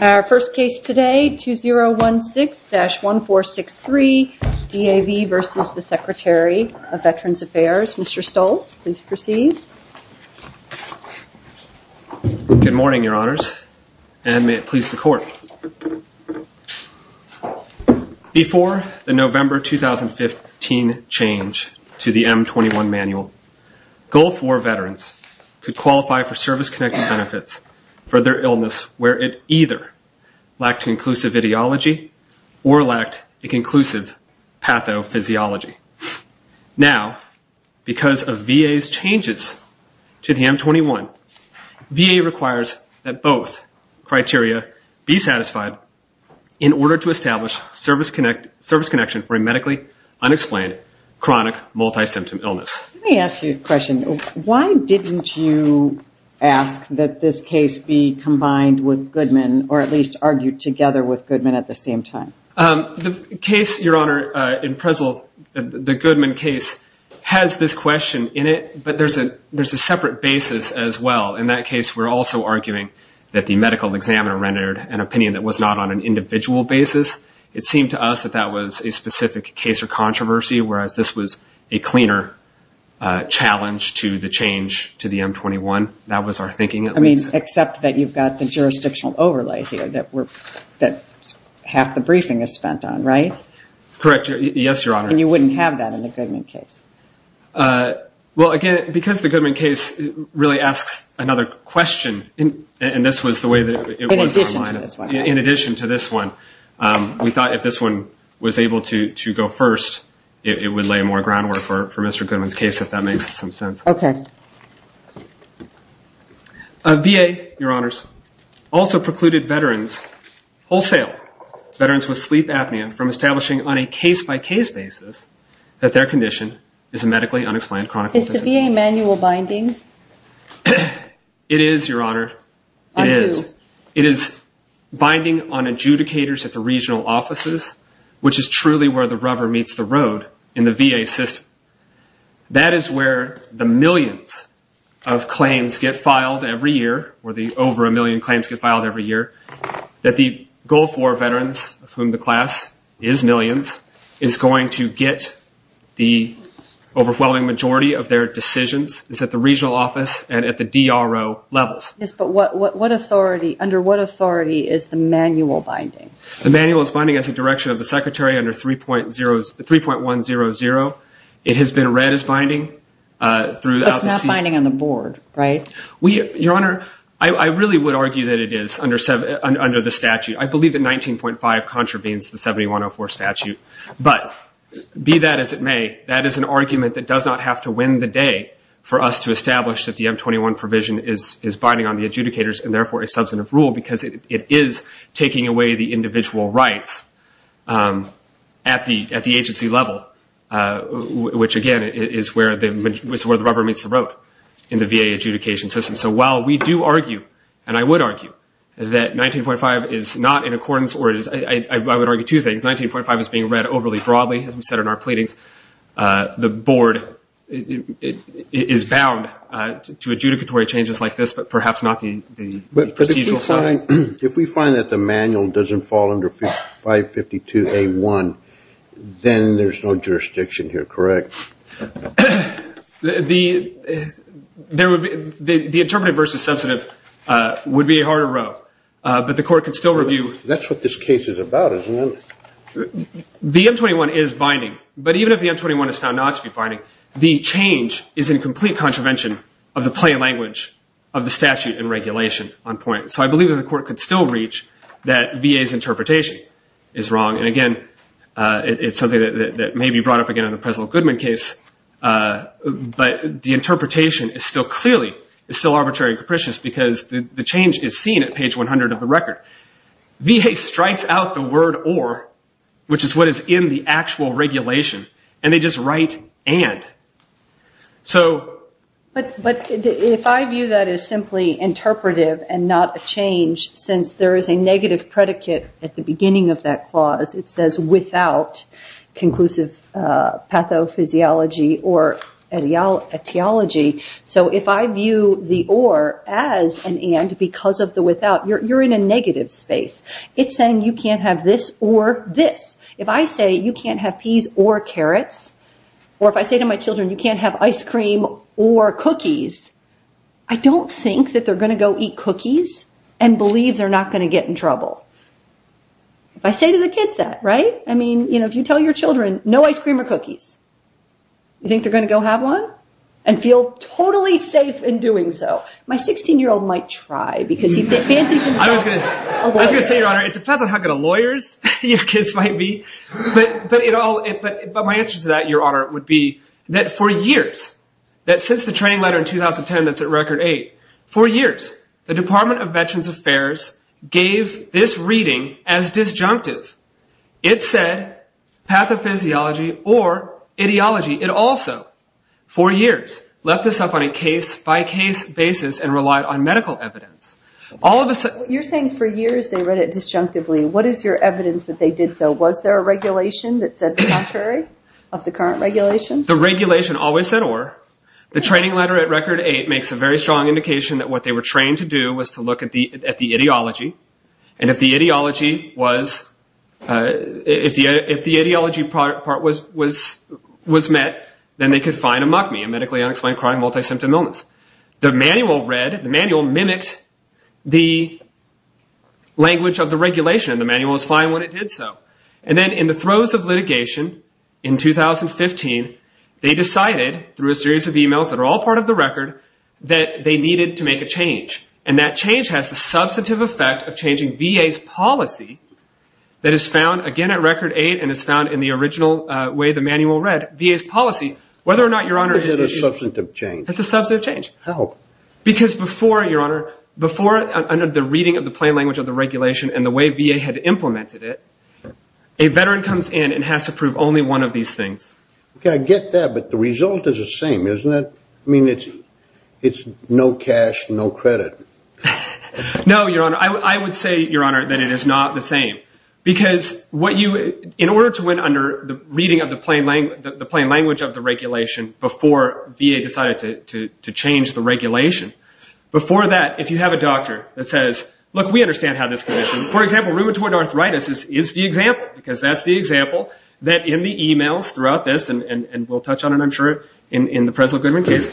Our first case today, 2016-1463, DAV v. Secretary of Veterans Affairs. Mr. Stoltz, please proceed. Good morning, Your Honors, and may it please the Court. Before the November 2015 change to the M21 manual, Gulf War veterans could qualify for service-connected benefits for their illness where it either lacked conclusive ideology or lacked a conclusive pathophysiology. Now, because of VA's changes to the M21, VA requires that both criteria be satisfied in order to establish service connection for a medically unexplained chronic multisymptom illness. Let me ask you a question. Why didn't you ask that this case be combined with Goodman, or at least argue together with Goodman at the same time? The case, Your Honor, in Prezl, the Goodman case, has this question in it, but there's a separate basis as well. In that case, we're also arguing that the medical examiner rendered an opinion that was not on an individual basis. It seemed to us that that was a specific case or controversy, whereas this was a cleaner challenge to the change to the M21. That was our thinking at least. I mean, except that you've got the jurisdictional overlay here that half the briefing is spent on, right? Correct, yes, Your Honor. And you wouldn't have that in the Goodman case? Well, again, because the Goodman case really asks another question, and this was the way that it was outlined. In addition to this one, right? We thought if this one was able to go first, it would lay more groundwork for Mr. Goodman's case, if that makes some sense. Okay. VA, Your Honors, also precluded veterans wholesale, veterans with sleep apnea, from establishing on a case-by-case basis that their condition is a medically unexplained chronic condition. Is the VA manual binding? It is, Your Honor. On who? It is binding on adjudicators at the regional offices, which is truly where the rubber meets the road in the VA system. That is where the millions of claims get filed every year, where the over a million claims get filed every year, that the Gulf War veterans, of whom the class is millions, is going to get the overwhelming majority of their decisions, is at the regional office and at the DRO levels. Yes, but under what authority is the manual binding? The manual is binding as a direction of the Secretary under 3.100. It has been read as binding. It's not binding on the board, right? Your Honor, I really would argue that it is under the statute. I believe that 19.5 contravenes the 7104 statute. But be that as it may, that is an argument that does not have to win the day for us to establish that the M21 provision is binding on the adjudicators and therefore a substantive rule because it is taking away the individual rights at the agency level, which, again, is where the rubber meets the road in the VA adjudication system. So while we do argue, and I would argue, that 19.5 is not in accordance, or I would argue two things. 19.5 is being read overly broadly, as we said in our pleadings. The board is bound to adjudicatory changes like this, but perhaps not the procedural side. But if we find that the manual doesn't fall under 552A1, then there's no jurisdiction here, correct? The interpretive versus substantive would be a harder row, but the court could still review. That's what this case is about, isn't it? The M21 is binding. But even if the M21 is found not to be binding, the change is in complete contravention of the plain language of the statute and regulation on point. So I believe that the court could still reach that VA's interpretation is wrong. And, again, it's something that may be brought up again in the President Goodman case, but the interpretation is still clearly arbitrary and capricious because the change is seen at page 100 of the record. VA strikes out the word or, which is what is in the actual regulation, and they just write and. But if I view that as simply interpretive and not a change, since there is a negative predicate at the beginning of that clause, it says without conclusive pathophysiology or etiology. So if I view the or as an and because of the without, you're in a negative space. It's saying you can't have this or this. If I say you can't have peas or carrots, or if I say to my children you can't have ice cream or cookies, I don't think that they're going to go eat cookies and believe they're not going to get in trouble. If I say to the kids that, right? I mean, you know, if you tell your children no ice cream or cookies, you think they're going to go have one and feel totally safe in doing so? My 16-year-old might try because he fancies himself a lawyer. I was going to say, Your Honor, it depends on how good of lawyers your kids might be. But my answer to that, Your Honor, would be that for years, that since the training letter in 2010 that's at record eight, for years the Department of Veterans Affairs gave this reading as disjunctive. It said pathophysiology or ideology. It also, for years, left this up on a case-by-case basis and relied on medical evidence. You're saying for years they read it disjunctively. What is your evidence that they did so? Was there a regulation that said the contrary of the current regulation? The regulation always said or. The training letter at record eight makes a very strong indication that what they were trained to do was to look at the ideology. If the ideology part was met, then they could find a MUCMI, a medically unexplained chronic multi-symptom illness. The manual mimicked the language of the regulation. The manual was fine when it did so. Then in the throes of litigation in 2015, they decided through a series of emails that are all part of the record that they needed to make a change. That change has the substantive effect of changing VA's policy that is found, again, at record eight and is found in the original way the manual read, VA's policy. Whether or not, Your Honor. What is a substantive change? It's a substantive change. How? Because before, Your Honor, before the reading of the plain language of the regulation and the way VA had implemented it, a veteran comes in and has to prove only one of these things. I get that, but the result is the same, isn't it? I mean, it's no cash, no credit. No, Your Honor. I would say, Your Honor, that it is not the same. Because in order to win under the reading of the plain language of the regulation before VA decided to change the regulation, before that, if you have a doctor that says, look, we understand how this condition, for example, rheumatoid arthritis is the example because that's the example that in the emails throughout this, and we'll touch on it, I'm sure, in the Presley-Goodman case.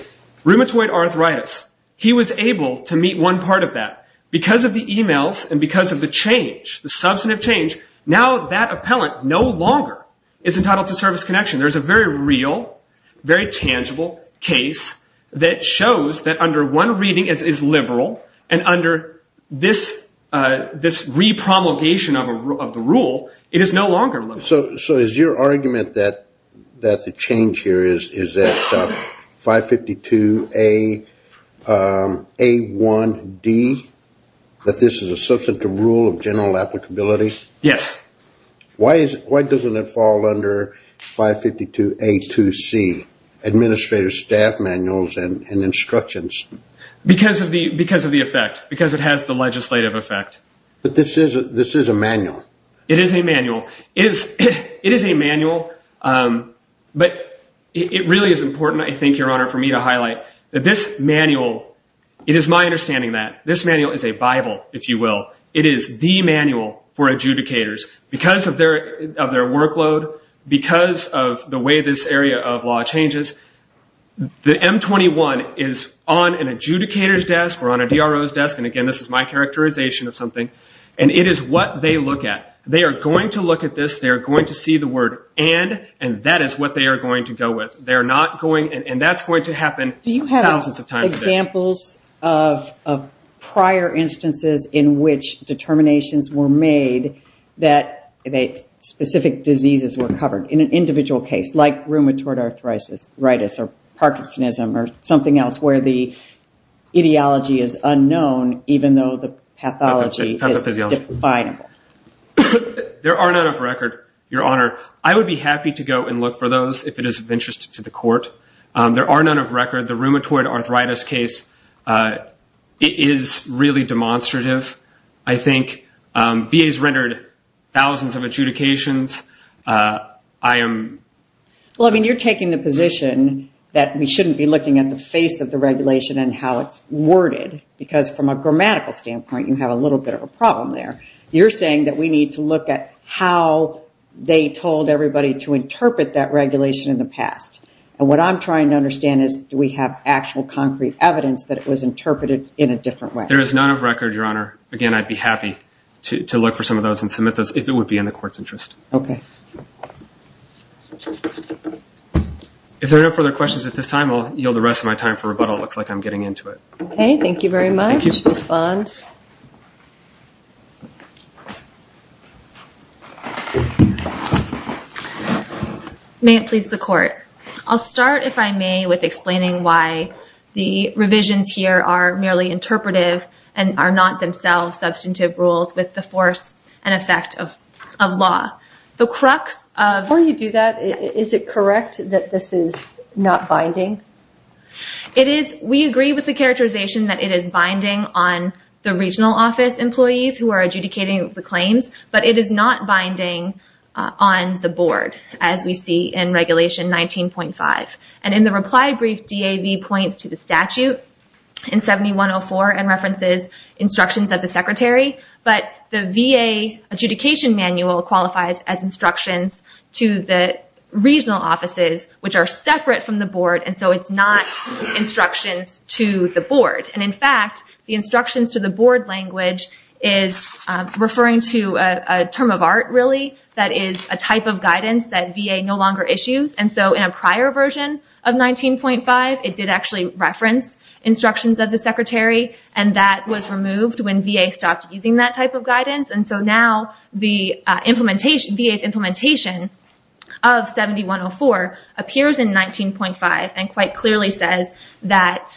Rheumatoid arthritis, he was able to meet one part of that. Because of the emails and because of the change, the substantive change, now that appellant no longer is entitled to service connection. There is a very real, very tangible case that shows that under one reading it is liberal and under this repromulgation of the rule it is no longer liberal. So is your argument that the change here is that 552A1D, that this is a substantive rule of general applicability? Yes. Why doesn't it fall under 552A2C, Administrative Staff Manuals and Instructions? Because of the effect, because it has the legislative effect. But this is a manual. It is a manual. But it really is important, I think, Your Honor, for me to highlight that this manual, it is my understanding that this manual is a Bible, if you will. It is the manual for adjudicators because of their workload, because of the way this area of law changes. The M21 is on an adjudicator's desk or on a DRO's desk, and again this is my characterization of something, and it is what they look at. They are going to look at this, they are going to see the word and, and that is what they are going to go with. And that's going to happen thousands of times a day. Do you have examples of prior instances in which determinations were made that specific diseases were covered in an individual case, like rheumatoid arthritis or Parkinsonism or something else where the ideology is unknown even though the pathology is definable? There are none of record, Your Honor. I would be happy to go and look for those if it is of interest to the court. There are none of record. The rheumatoid arthritis case is really demonstrative. I think VA has rendered thousands of adjudications. I am... Well, I mean, you're taking the position that we shouldn't be looking at the face of the regulation and how it's worded because from a grammatical standpoint you have a little bit of a problem there. You're saying that we need to look at how they told everybody to interpret that regulation in the past. And what I'm trying to understand is, do we have actual concrete evidence that it was interpreted in a different way? There is none of record, Your Honor. Again, I'd be happy to look for some of those and submit those if it would be in the court's interest. Okay. If there are no further questions at this time, I'll yield the rest of my time for rebuttal. It looks like I'm getting into it. Okay. Thank you very much. Thank you. May it please the court. I'll start, if I may, with explaining why the revisions here are merely interpretive and are not themselves substantive rules with the force and effect of law. The crux of... Before you do that, is it correct that this is not binding? It is. We agree with the characterization that it is binding on the regional office employees who are adjudicating the claims, but it is not binding on the board, as we see in Regulation 19.5. And in the reply brief, DAV points to the statute in 7104 and references instructions of the secretary, but the VA adjudication manual qualifies as instructions to the regional offices, which are separate from the board, and so it's not instructions to the board. And, in fact, the instructions to the board language is referring to a term of art, really, that is a type of guidance that VA no longer issues. And so in a prior version of 19.5, it did actually reference instructions of the secretary, and that was removed when VA stopped using that type of guidance. And so now the VA's implementation of 7104 appears in 19.5 and quite clearly says that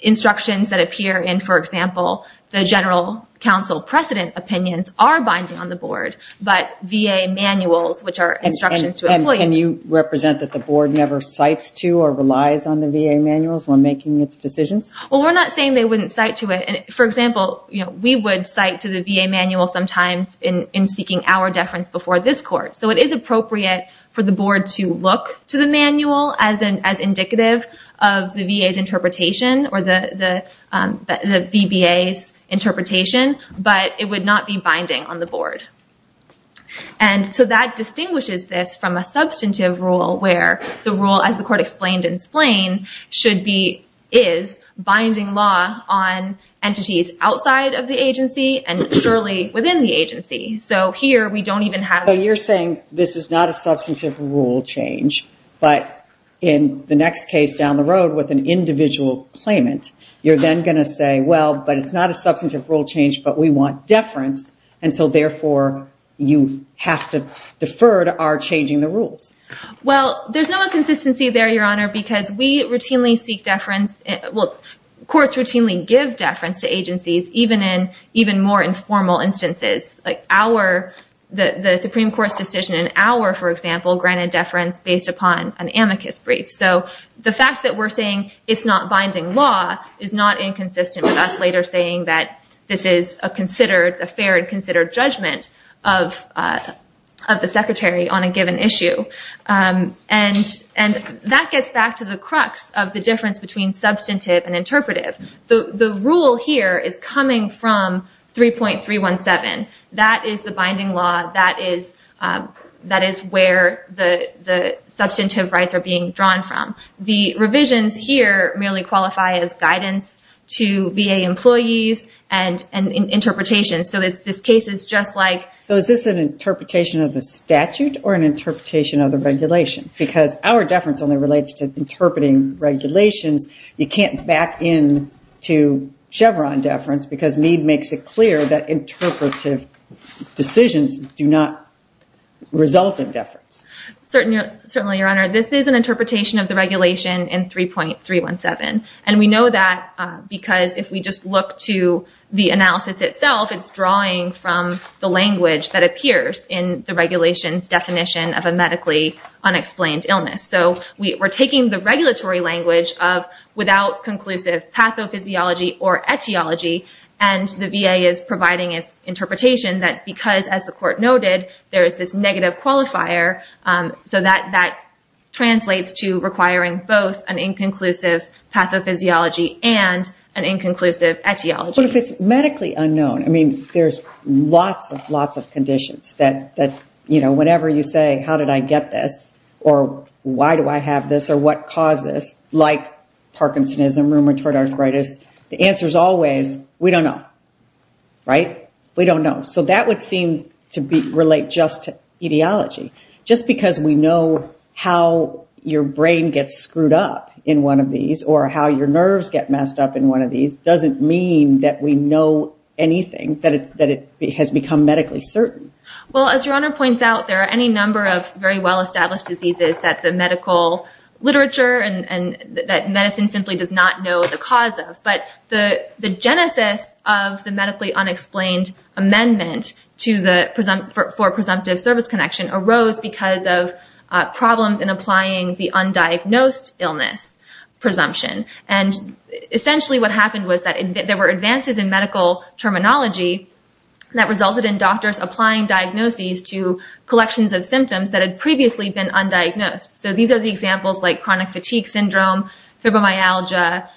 instructions that appear in, for example, the general counsel precedent opinions are binding on the board, but VA manuals, which are instructions to employees... And you represent that the board never cites to or relies on the VA manuals when making its decisions? Well, we're not saying they wouldn't cite to it. For example, we would cite to the VA manual sometimes in seeking our deference before this court. So it is appropriate for the board to look to the manual as indicative of the VA's interpretation or the VBA's interpretation, but it would not be binding on the board. And so that distinguishes this from a substantive rule where the rule, as the court explained in Splain, is binding law on entities outside of the agency and surely within the agency. So here we don't even have... So you're saying this is not a substantive rule change, but in the next case down the road with an individual claimant, you're then going to say, well, but it's not a substantive rule change, but we want deference, and so therefore you have to defer to our changing the rules. Well, there's no consistency there, Your Honor, because courts routinely give deference to agencies even in more informal instances. Like the Supreme Court's decision in our, for example, granted deference based upon an amicus brief. So the fact that we're saying it's not binding law is not inconsistent with us later saying that this is a fair and considered judgment of the Secretary on a given issue. And that gets back to the crux of the difference between substantive and interpretive. The rule here is coming from 3.317. That is the binding law. That is where the substantive rights are being drawn from. The revisions here merely qualify as guidance to VA employees and interpretations. So this case is just like... So is this an interpretation of the statute or an interpretation of the regulation? Because our deference only relates to interpreting regulations. You can't back in to Chevron deference because Mead makes it clear that interpretive decisions do not result in deference. Certainly, Your Honor. This is an interpretation of the regulation in 3.317. And we know that because if we just look to the analysis itself, it's drawing from the language that appears in the regulation's definition of a medically unexplained illness. So we're taking the regulatory language of without conclusive pathophysiology or etiology, and the VA is providing its interpretation that because, as the Court noted, there is this negative qualifier, so that translates to requiring both an inconclusive pathophysiology and an inconclusive etiology. But if it's medically unknown, I mean, there's lots and lots of conditions that, you know, whenever you say, how did I get this or why do I have this or what caused this, like Parkinsonism, rheumatoid arthritis, the answer is always, we don't know. Right? We don't know. So that would seem to relate just to etiology. Just because we know how your brain gets screwed up in one of these or how your nerves get messed up in one of these doesn't mean that we know anything, that it has become medically certain. Well, as Your Honor points out, there are any number of very well-established diseases that the medical literature and that medicine simply does not know the cause of. But the genesis of the medically unexplained amendment for presumptive service connection arose because of problems in applying the undiagnosed illness presumption. And essentially what happened was that there were advances in medical terminology that resulted in doctors applying diagnoses to collections of symptoms that had previously been undiagnosed. So these are the examples like chronic fatigue syndrome, fibromyalgia,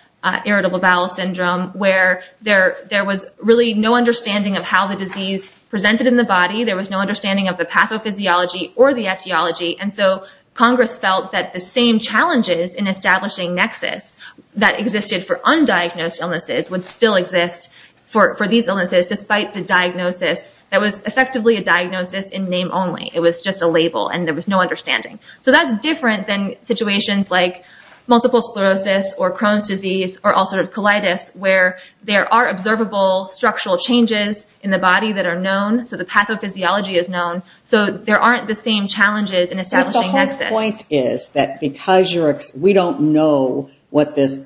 irritable bowel syndrome, where there was really no understanding of how the disease presented in the body. There was no understanding of the pathophysiology or the etiology. And so Congress felt that the same challenges in establishing nexus that existed for undiagnosed illnesses would still exist for these illnesses despite the diagnosis that was effectively a diagnosis in name only. It was just a label and there was no understanding. So that's different than situations like multiple sclerosis or Crohn's disease or ulcerative colitis, where there are observable structural changes in the body that are known. So the pathophysiology is known. So there aren't the same challenges in establishing nexus. If the whole point is that because we don't know what this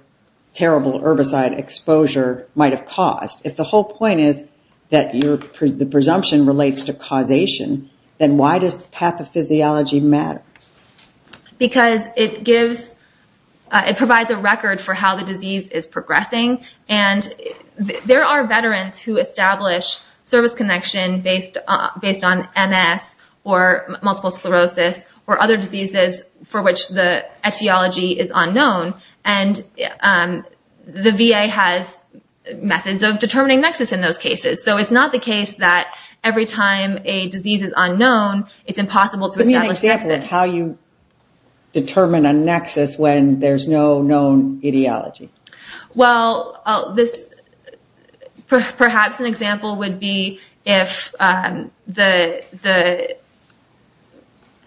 terrible herbicide exposure might have caused, if the whole point is that the presumption relates to causation, then why does pathophysiology matter? Because it provides a record for how the disease is progressing. There are veterans who establish service connection based on MS or multiple sclerosis or other diseases for which the etiology is unknown. And the VA has methods of determining nexus in those cases. So it's not the case that every time a disease is unknown, it's impossible to establish nexus. Give me an example of how you determine a nexus when there's no known etiology. Well, perhaps an example would be if the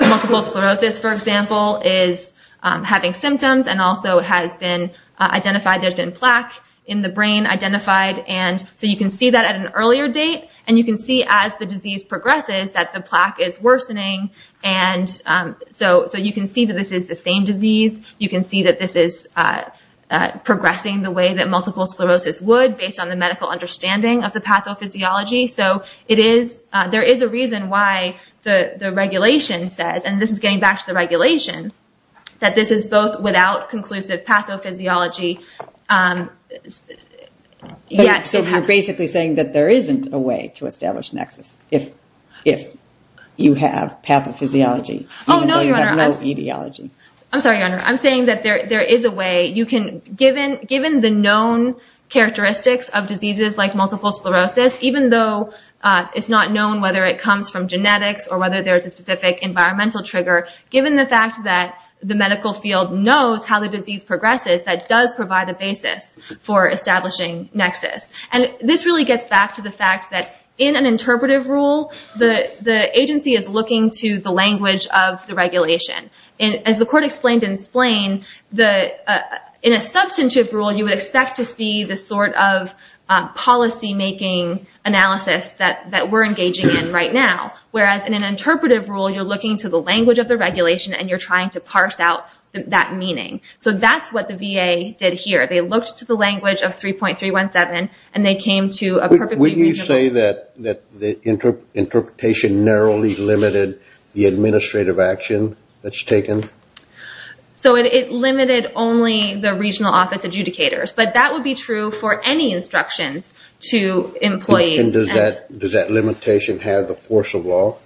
multiple sclerosis, for example, is having symptoms and also has been identified, there's been plaque in the brain identified. And so you can see that at an earlier date. And you can see as the disease progresses that the plaque is worsening. And so you can see that this is the same disease. You can see that this is progressing the way that multiple sclerosis would based on the medical understanding of the pathophysiology. So there is a reason why the regulation says, and this is getting back to the regulation, that this is both without conclusive pathophysiology yet to happen. So you're basically saying that there isn't a way to establish nexus if you have pathophysiology, even though you have no etiology. I'm sorry, Your Honor. I'm saying that there is a way. Given the known characteristics of diseases like multiple sclerosis, even though it's not known whether it comes from genetics or whether there's a specific environmental trigger, given the fact that the medical field knows how the disease progresses, that does provide a basis for establishing nexus. And this really gets back to the fact that in an interpretive rule, the agency is looking to the language of the regulation. As the Court explained in Splain, in a substantive rule, you would expect to see the sort of policymaking analysis that we're engaging in right now, whereas in an interpretive rule, you're looking to the language of the regulation and you're trying to parse out that meaning. So that's what the VA did here. They looked to the language of 3.317 and they came to a perfectly reasonable rule. So it limited only the regional office adjudicators. But that would be true for any instructions to employees. And does that limitation have the force of law?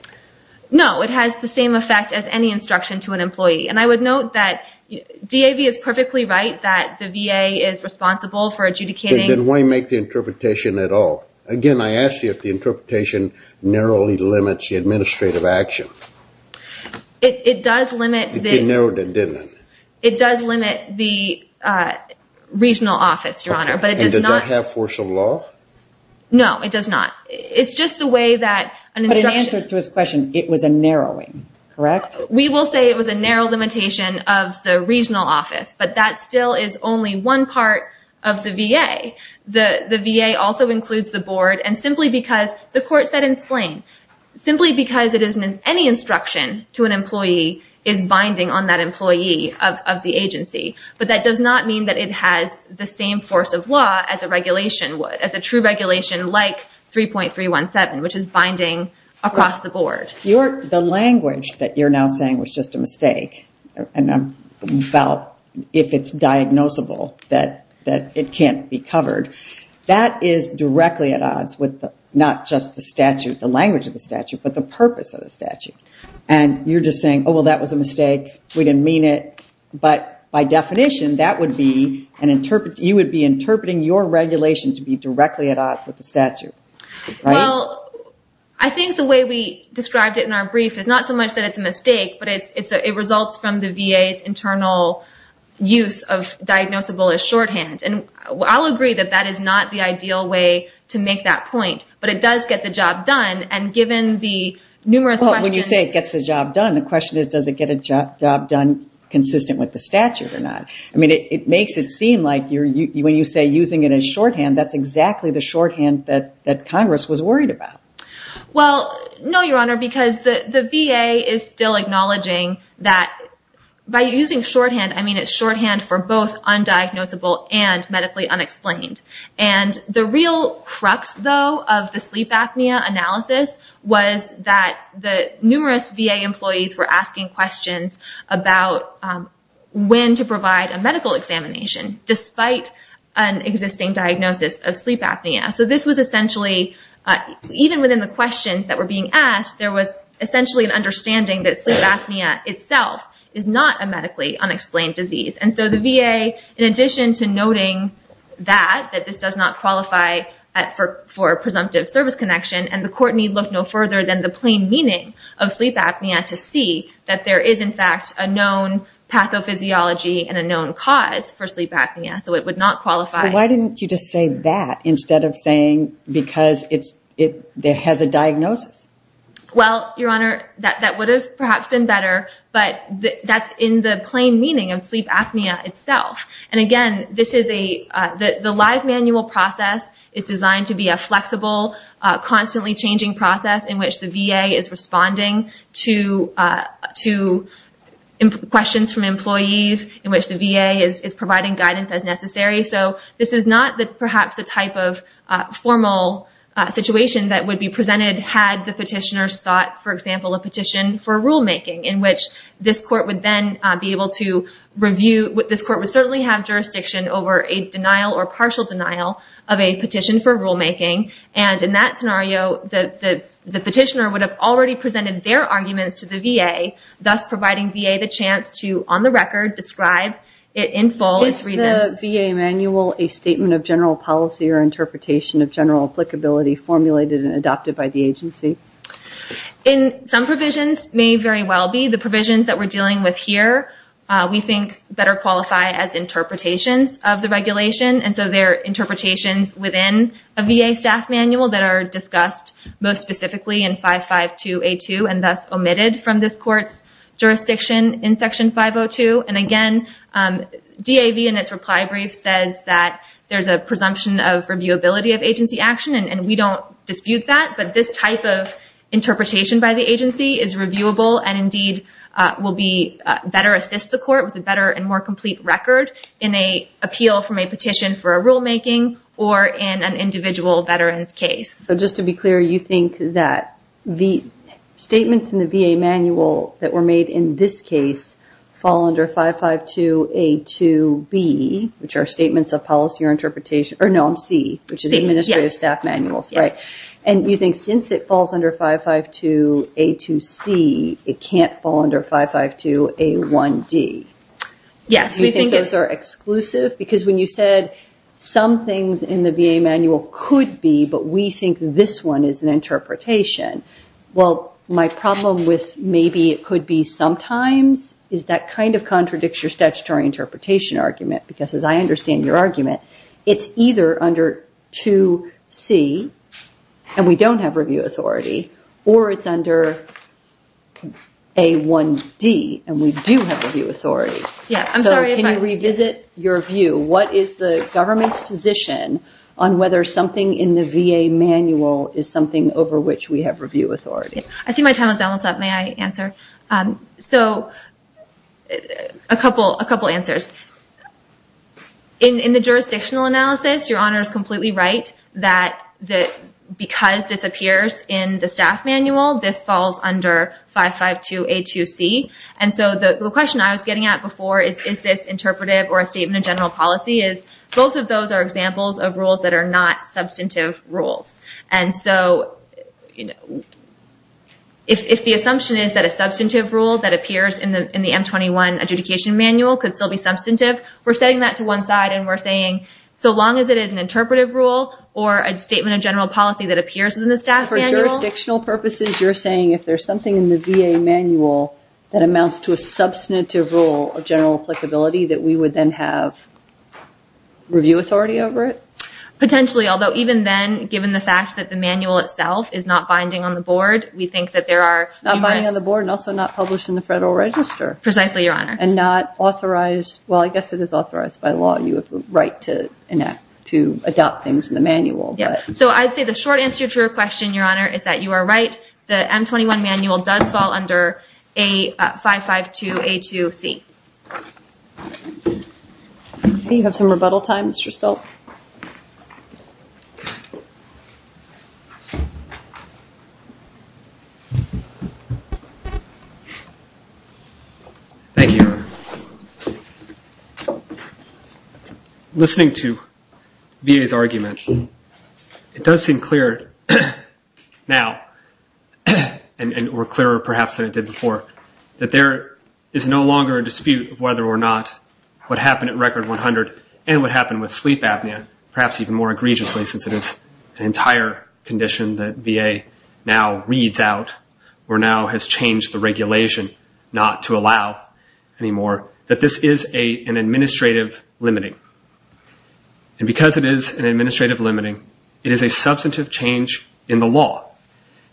No, it has the same effect as any instruction to an employee. And I would note that DAV is perfectly right that the VA is responsible for adjudicating. Then why make the interpretation at all? Again, I asked you if the interpretation narrowly limits the administrative action. It does limit the regional office, Your Honor. And does that have force of law? No, it does not. But in answer to his question, it was a narrowing, correct? We will say it was a narrow limitation of the regional office, but that still is only one part of the VA. The VA also includes the board, and simply because the Court said in Splain, simply because any instruction to an employee is binding on that employee of the agency. But that does not mean that it has the same force of law as a regulation would, as a true regulation like 3.317, which is binding across the board. The language that you're now saying was just a mistake, about if it's diagnosable that it can't be covered, that is directly at odds with not just the statute, the language of the statute, but the purpose of the statute. And you're just saying, oh, well, that was a mistake. We didn't mean it. But by definition, you would be interpreting your regulation to be directly at odds with the statute, right? Well, I think the way we described it in our brief is not so much that it's a mistake, but it results from the VA's internal use of diagnosable as shorthand. And I'll agree that that is not the ideal way to make that point, but it does get the job done. And given the numerous questions... Well, when you say it gets the job done, the question is, does it get a job done consistent with the statute or not? I mean, it makes it seem like when you say using it as shorthand, that's exactly the shorthand that Congress was worried about. Well, no, Your Honor, because the VA is still acknowledging that by using shorthand, I mean it's shorthand for both undiagnosable and medically unexplained. And the real crux, though, of the sleep apnea analysis was that the numerous VA employees were asking questions about when to provide a medical examination despite an existing diagnosis of sleep apnea. So this was essentially, even within the questions that were being asked, there was essentially an understanding that sleep apnea itself is not a medically unexplained disease. And so the VA, in addition to noting that, that this does not qualify for presumptive service connection, and the court need look no further than the plain meaning of sleep apnea to see that there is, in fact, a known pathophysiology and a known cause for sleep apnea, so it would not qualify. Why didn't you just say that instead of saying because it has a diagnosis? Well, Your Honor, that would have perhaps been better, but that's in the plain meaning of sleep apnea itself. And again, the live manual process is designed to be a flexible, constantly changing process in which the VA is responding to questions from employees, in which the VA is providing guidance as necessary. So this is not perhaps the type of formal situation that would be presented had the petitioner sought, for example, a petition for rulemaking in which this court would then be able to review. This court would certainly have jurisdiction over a denial or partial denial of a petition for rulemaking. And in that scenario, the petitioner would have already presented their arguments to the VA, thus providing VA the chance to, on the record, describe it in full. Is the VA manual a statement of general policy or interpretation of general applicability formulated and adopted by the agency? Some provisions may very well be. The provisions that we're dealing with here we think better qualify as interpretations of the regulation, and so they're interpretations within a VA staff manual that are discussed most specifically in 552A2 and thus omitted from this court's jurisdiction in Section 502. And again, DAV in its reply brief says that there's a presumption of reviewability of agency action, and we don't dispute that, but this type of interpretation by the agency is reviewable and indeed will better assist the court with a better and more complete record in an appeal from a petition for a rulemaking or in an individual veteran's case. So just to be clear, you think that the statements in the VA manual that were made in this case fall under 552A2B, which are statements of policy or interpretation, or no, C, which is administrative staff manuals, right? And you think since it falls under 552A2C, it can't fall under 552A1D. Do you think those are exclusive? Because when you said some things in the VA manual could be, but we think this one is an interpretation, well, my problem with maybe it could be sometimes is that kind of contradicts your statutory interpretation argument because as I understand your argument, it's either under 2C, and we don't have review authority, or it's under A1D, and we do have review authority. So can you revisit your view? What is the government's position on whether something in the VA manual is something over which we have review authority? I think my time is almost up. May I answer? So a couple answers. In the jurisdictional analysis, your Honor is completely right that because this appears in the staff manual, this falls under 552A2C. And so the question I was getting at before is, is this interpretive or a statement of general policy? Both of those are examples of rules that are not substantive rules. And so if the assumption is that a substantive rule that appears in the M21 adjudication manual could still be substantive, we're setting that to one side, and we're saying so long as it is an interpretive rule or a statement of general policy that appears in the staff manual. For jurisdictional purposes, you're saying if there's something in the VA manual that amounts to a substantive rule of general applicability that we would then have review authority over it? Potentially, although even then, given the fact that the manual itself is not binding on the board, we think that there are numerous Not binding on the board and also not published in the Federal Register. Precisely, Your Honor. And not authorized, well, I guess it is authorized by law. You have the right to adopt things in the manual. So I'd say the short answer to your question, Your Honor, is that you are right. The M21 manual does fall under 552A2C. Do you have some rebuttal time, Mr. Stoltz? Thank you, Your Honor. Listening to VA's argument, it does seem clearer now, or clearer perhaps than it did before, that there is no longer a dispute of whether or not what happened at Record 100 and what happened with sleep apnea, perhaps even more egregiously since it is an entire condition that VA now reads out or now has changed the regulation not to allow anymore, that this is an administrative limiting. And because it is an administrative limiting, it is a substantive change in the law.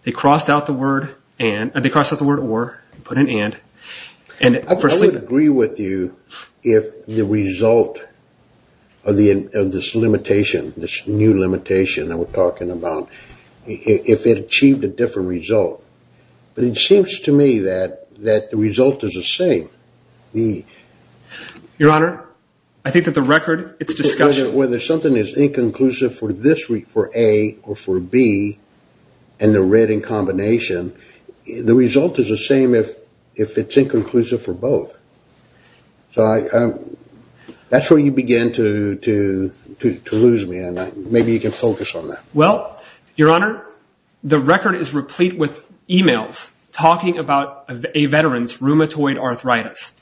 They crossed out the word or and put an and. I would agree with you if the result of this limitation, this new limitation that we're talking about, if it achieved a different result. But it seems to me that the result is the same. Your Honor, I think that the record, it's discussion. Whether something is inconclusive for A or for B and they're read in combination, the result is the same if it's inconclusive for both. So that's where you begin to lose me, and maybe you can focus on that. Well, Your Honor, the record is replete with e-mails talking about a veteran's rheumatoid arthritis.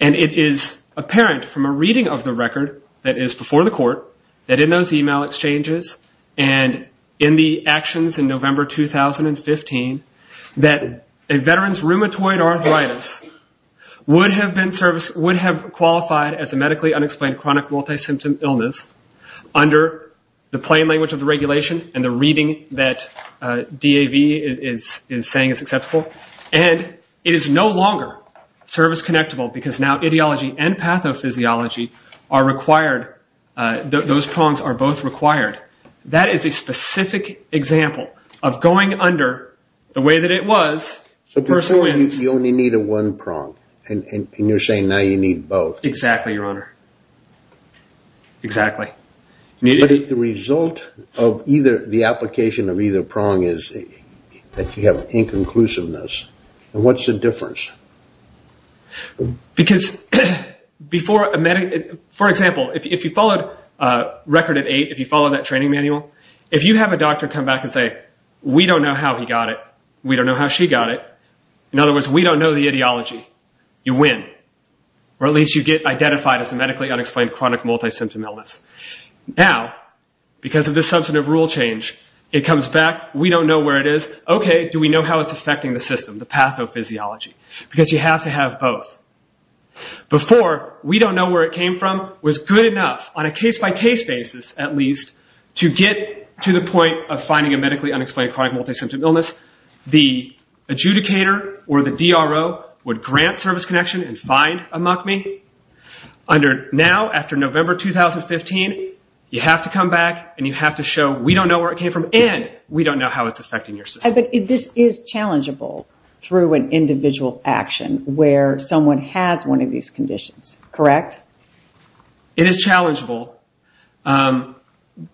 And it is apparent from a reading of the record that is before the court that in those e-mail exchanges and in the actions in November 2015 that a veteran's rheumatoid arthritis would have qualified as a medically unexplained chronic multi-symptom illness under the plain language of the regulation and the reading that DAV is saying is acceptable. And it is no longer service-connectable because now ideology and pathophysiology are required. Those prongs are both required. That is a specific example of going under the way that it was. So before you only needed one prong, and you're saying now you need both. Exactly, Your Honor. Exactly. But if the result of either, the application of either prong is that you have inconclusiveness, then what's the difference? Because before a medic, for example, if you followed Record at Eight, if you followed that training manual, if you have a doctor come back and say, we don't know how he got it, we don't know how she got it, in other words, we don't know the ideology, you win. Or at least you get identified as a medically unexplained chronic multi-symptom illness. Now, because of this substantive rule change, it comes back, we don't know where it is, okay, do we know how it's affecting the system, the pathophysiology? Because you have to have both. Before, we don't know where it came from was good enough, on a case-by-case basis at least, to get to the point of finding a medically unexplained chronic multi-symptom illness. The adjudicator or the DRO would grant service connection and find a MUCMI. Now, after November 2015, you have to come back and you have to show, we don't know where it came from and we don't know how it's affecting your system. But this is challengeable through an individual action where someone has one of these conditions, correct? It is challengeable.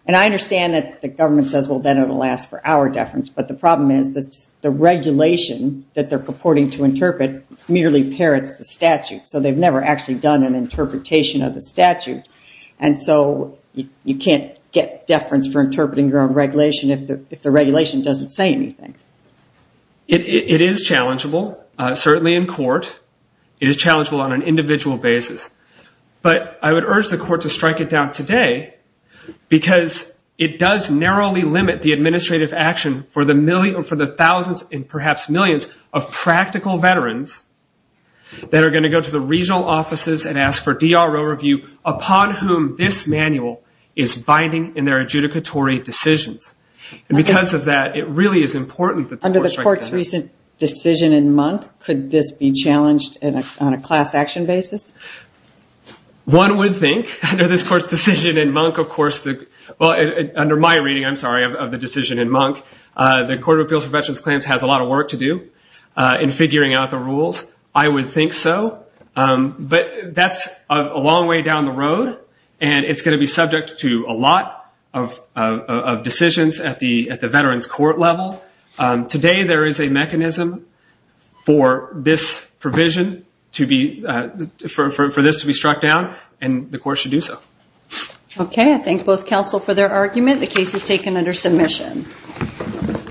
And I understand that the government says, well, then it will last for our deference, but the problem is the regulation that they're purporting to interpret merely parrots the statute. So they've never actually done an interpretation of the statute. And so you can't get deference for interpreting your own regulation if the regulation doesn't say anything. It is challengeable, certainly in court. It is challengeable on an individual basis. But I would urge the court to strike it down today, because it does narrowly limit the administrative action for the thousands and perhaps millions of practical veterans that are going to go to the regional offices and ask for DRO review upon whom this manual is binding in their adjudicatory decisions. And because of that, it really is important that the court strike it down. Under the court's recent decision in month, could this be challenged on a class action basis? One would think, under this court's decision in month, of course, well, under my reading, I'm sorry, of the decision in month, the Court of Appeals for Veterans Claims has a lot of work to do in figuring out the rules. I would think so. But that's a long way down the road, and it's going to be subject to a lot of decisions at the veterans court level. Today, there is a mechanism for this provision, for this to be struck down, and the court should do so. Okay, I thank both counsel for their argument. The case is taken under submission.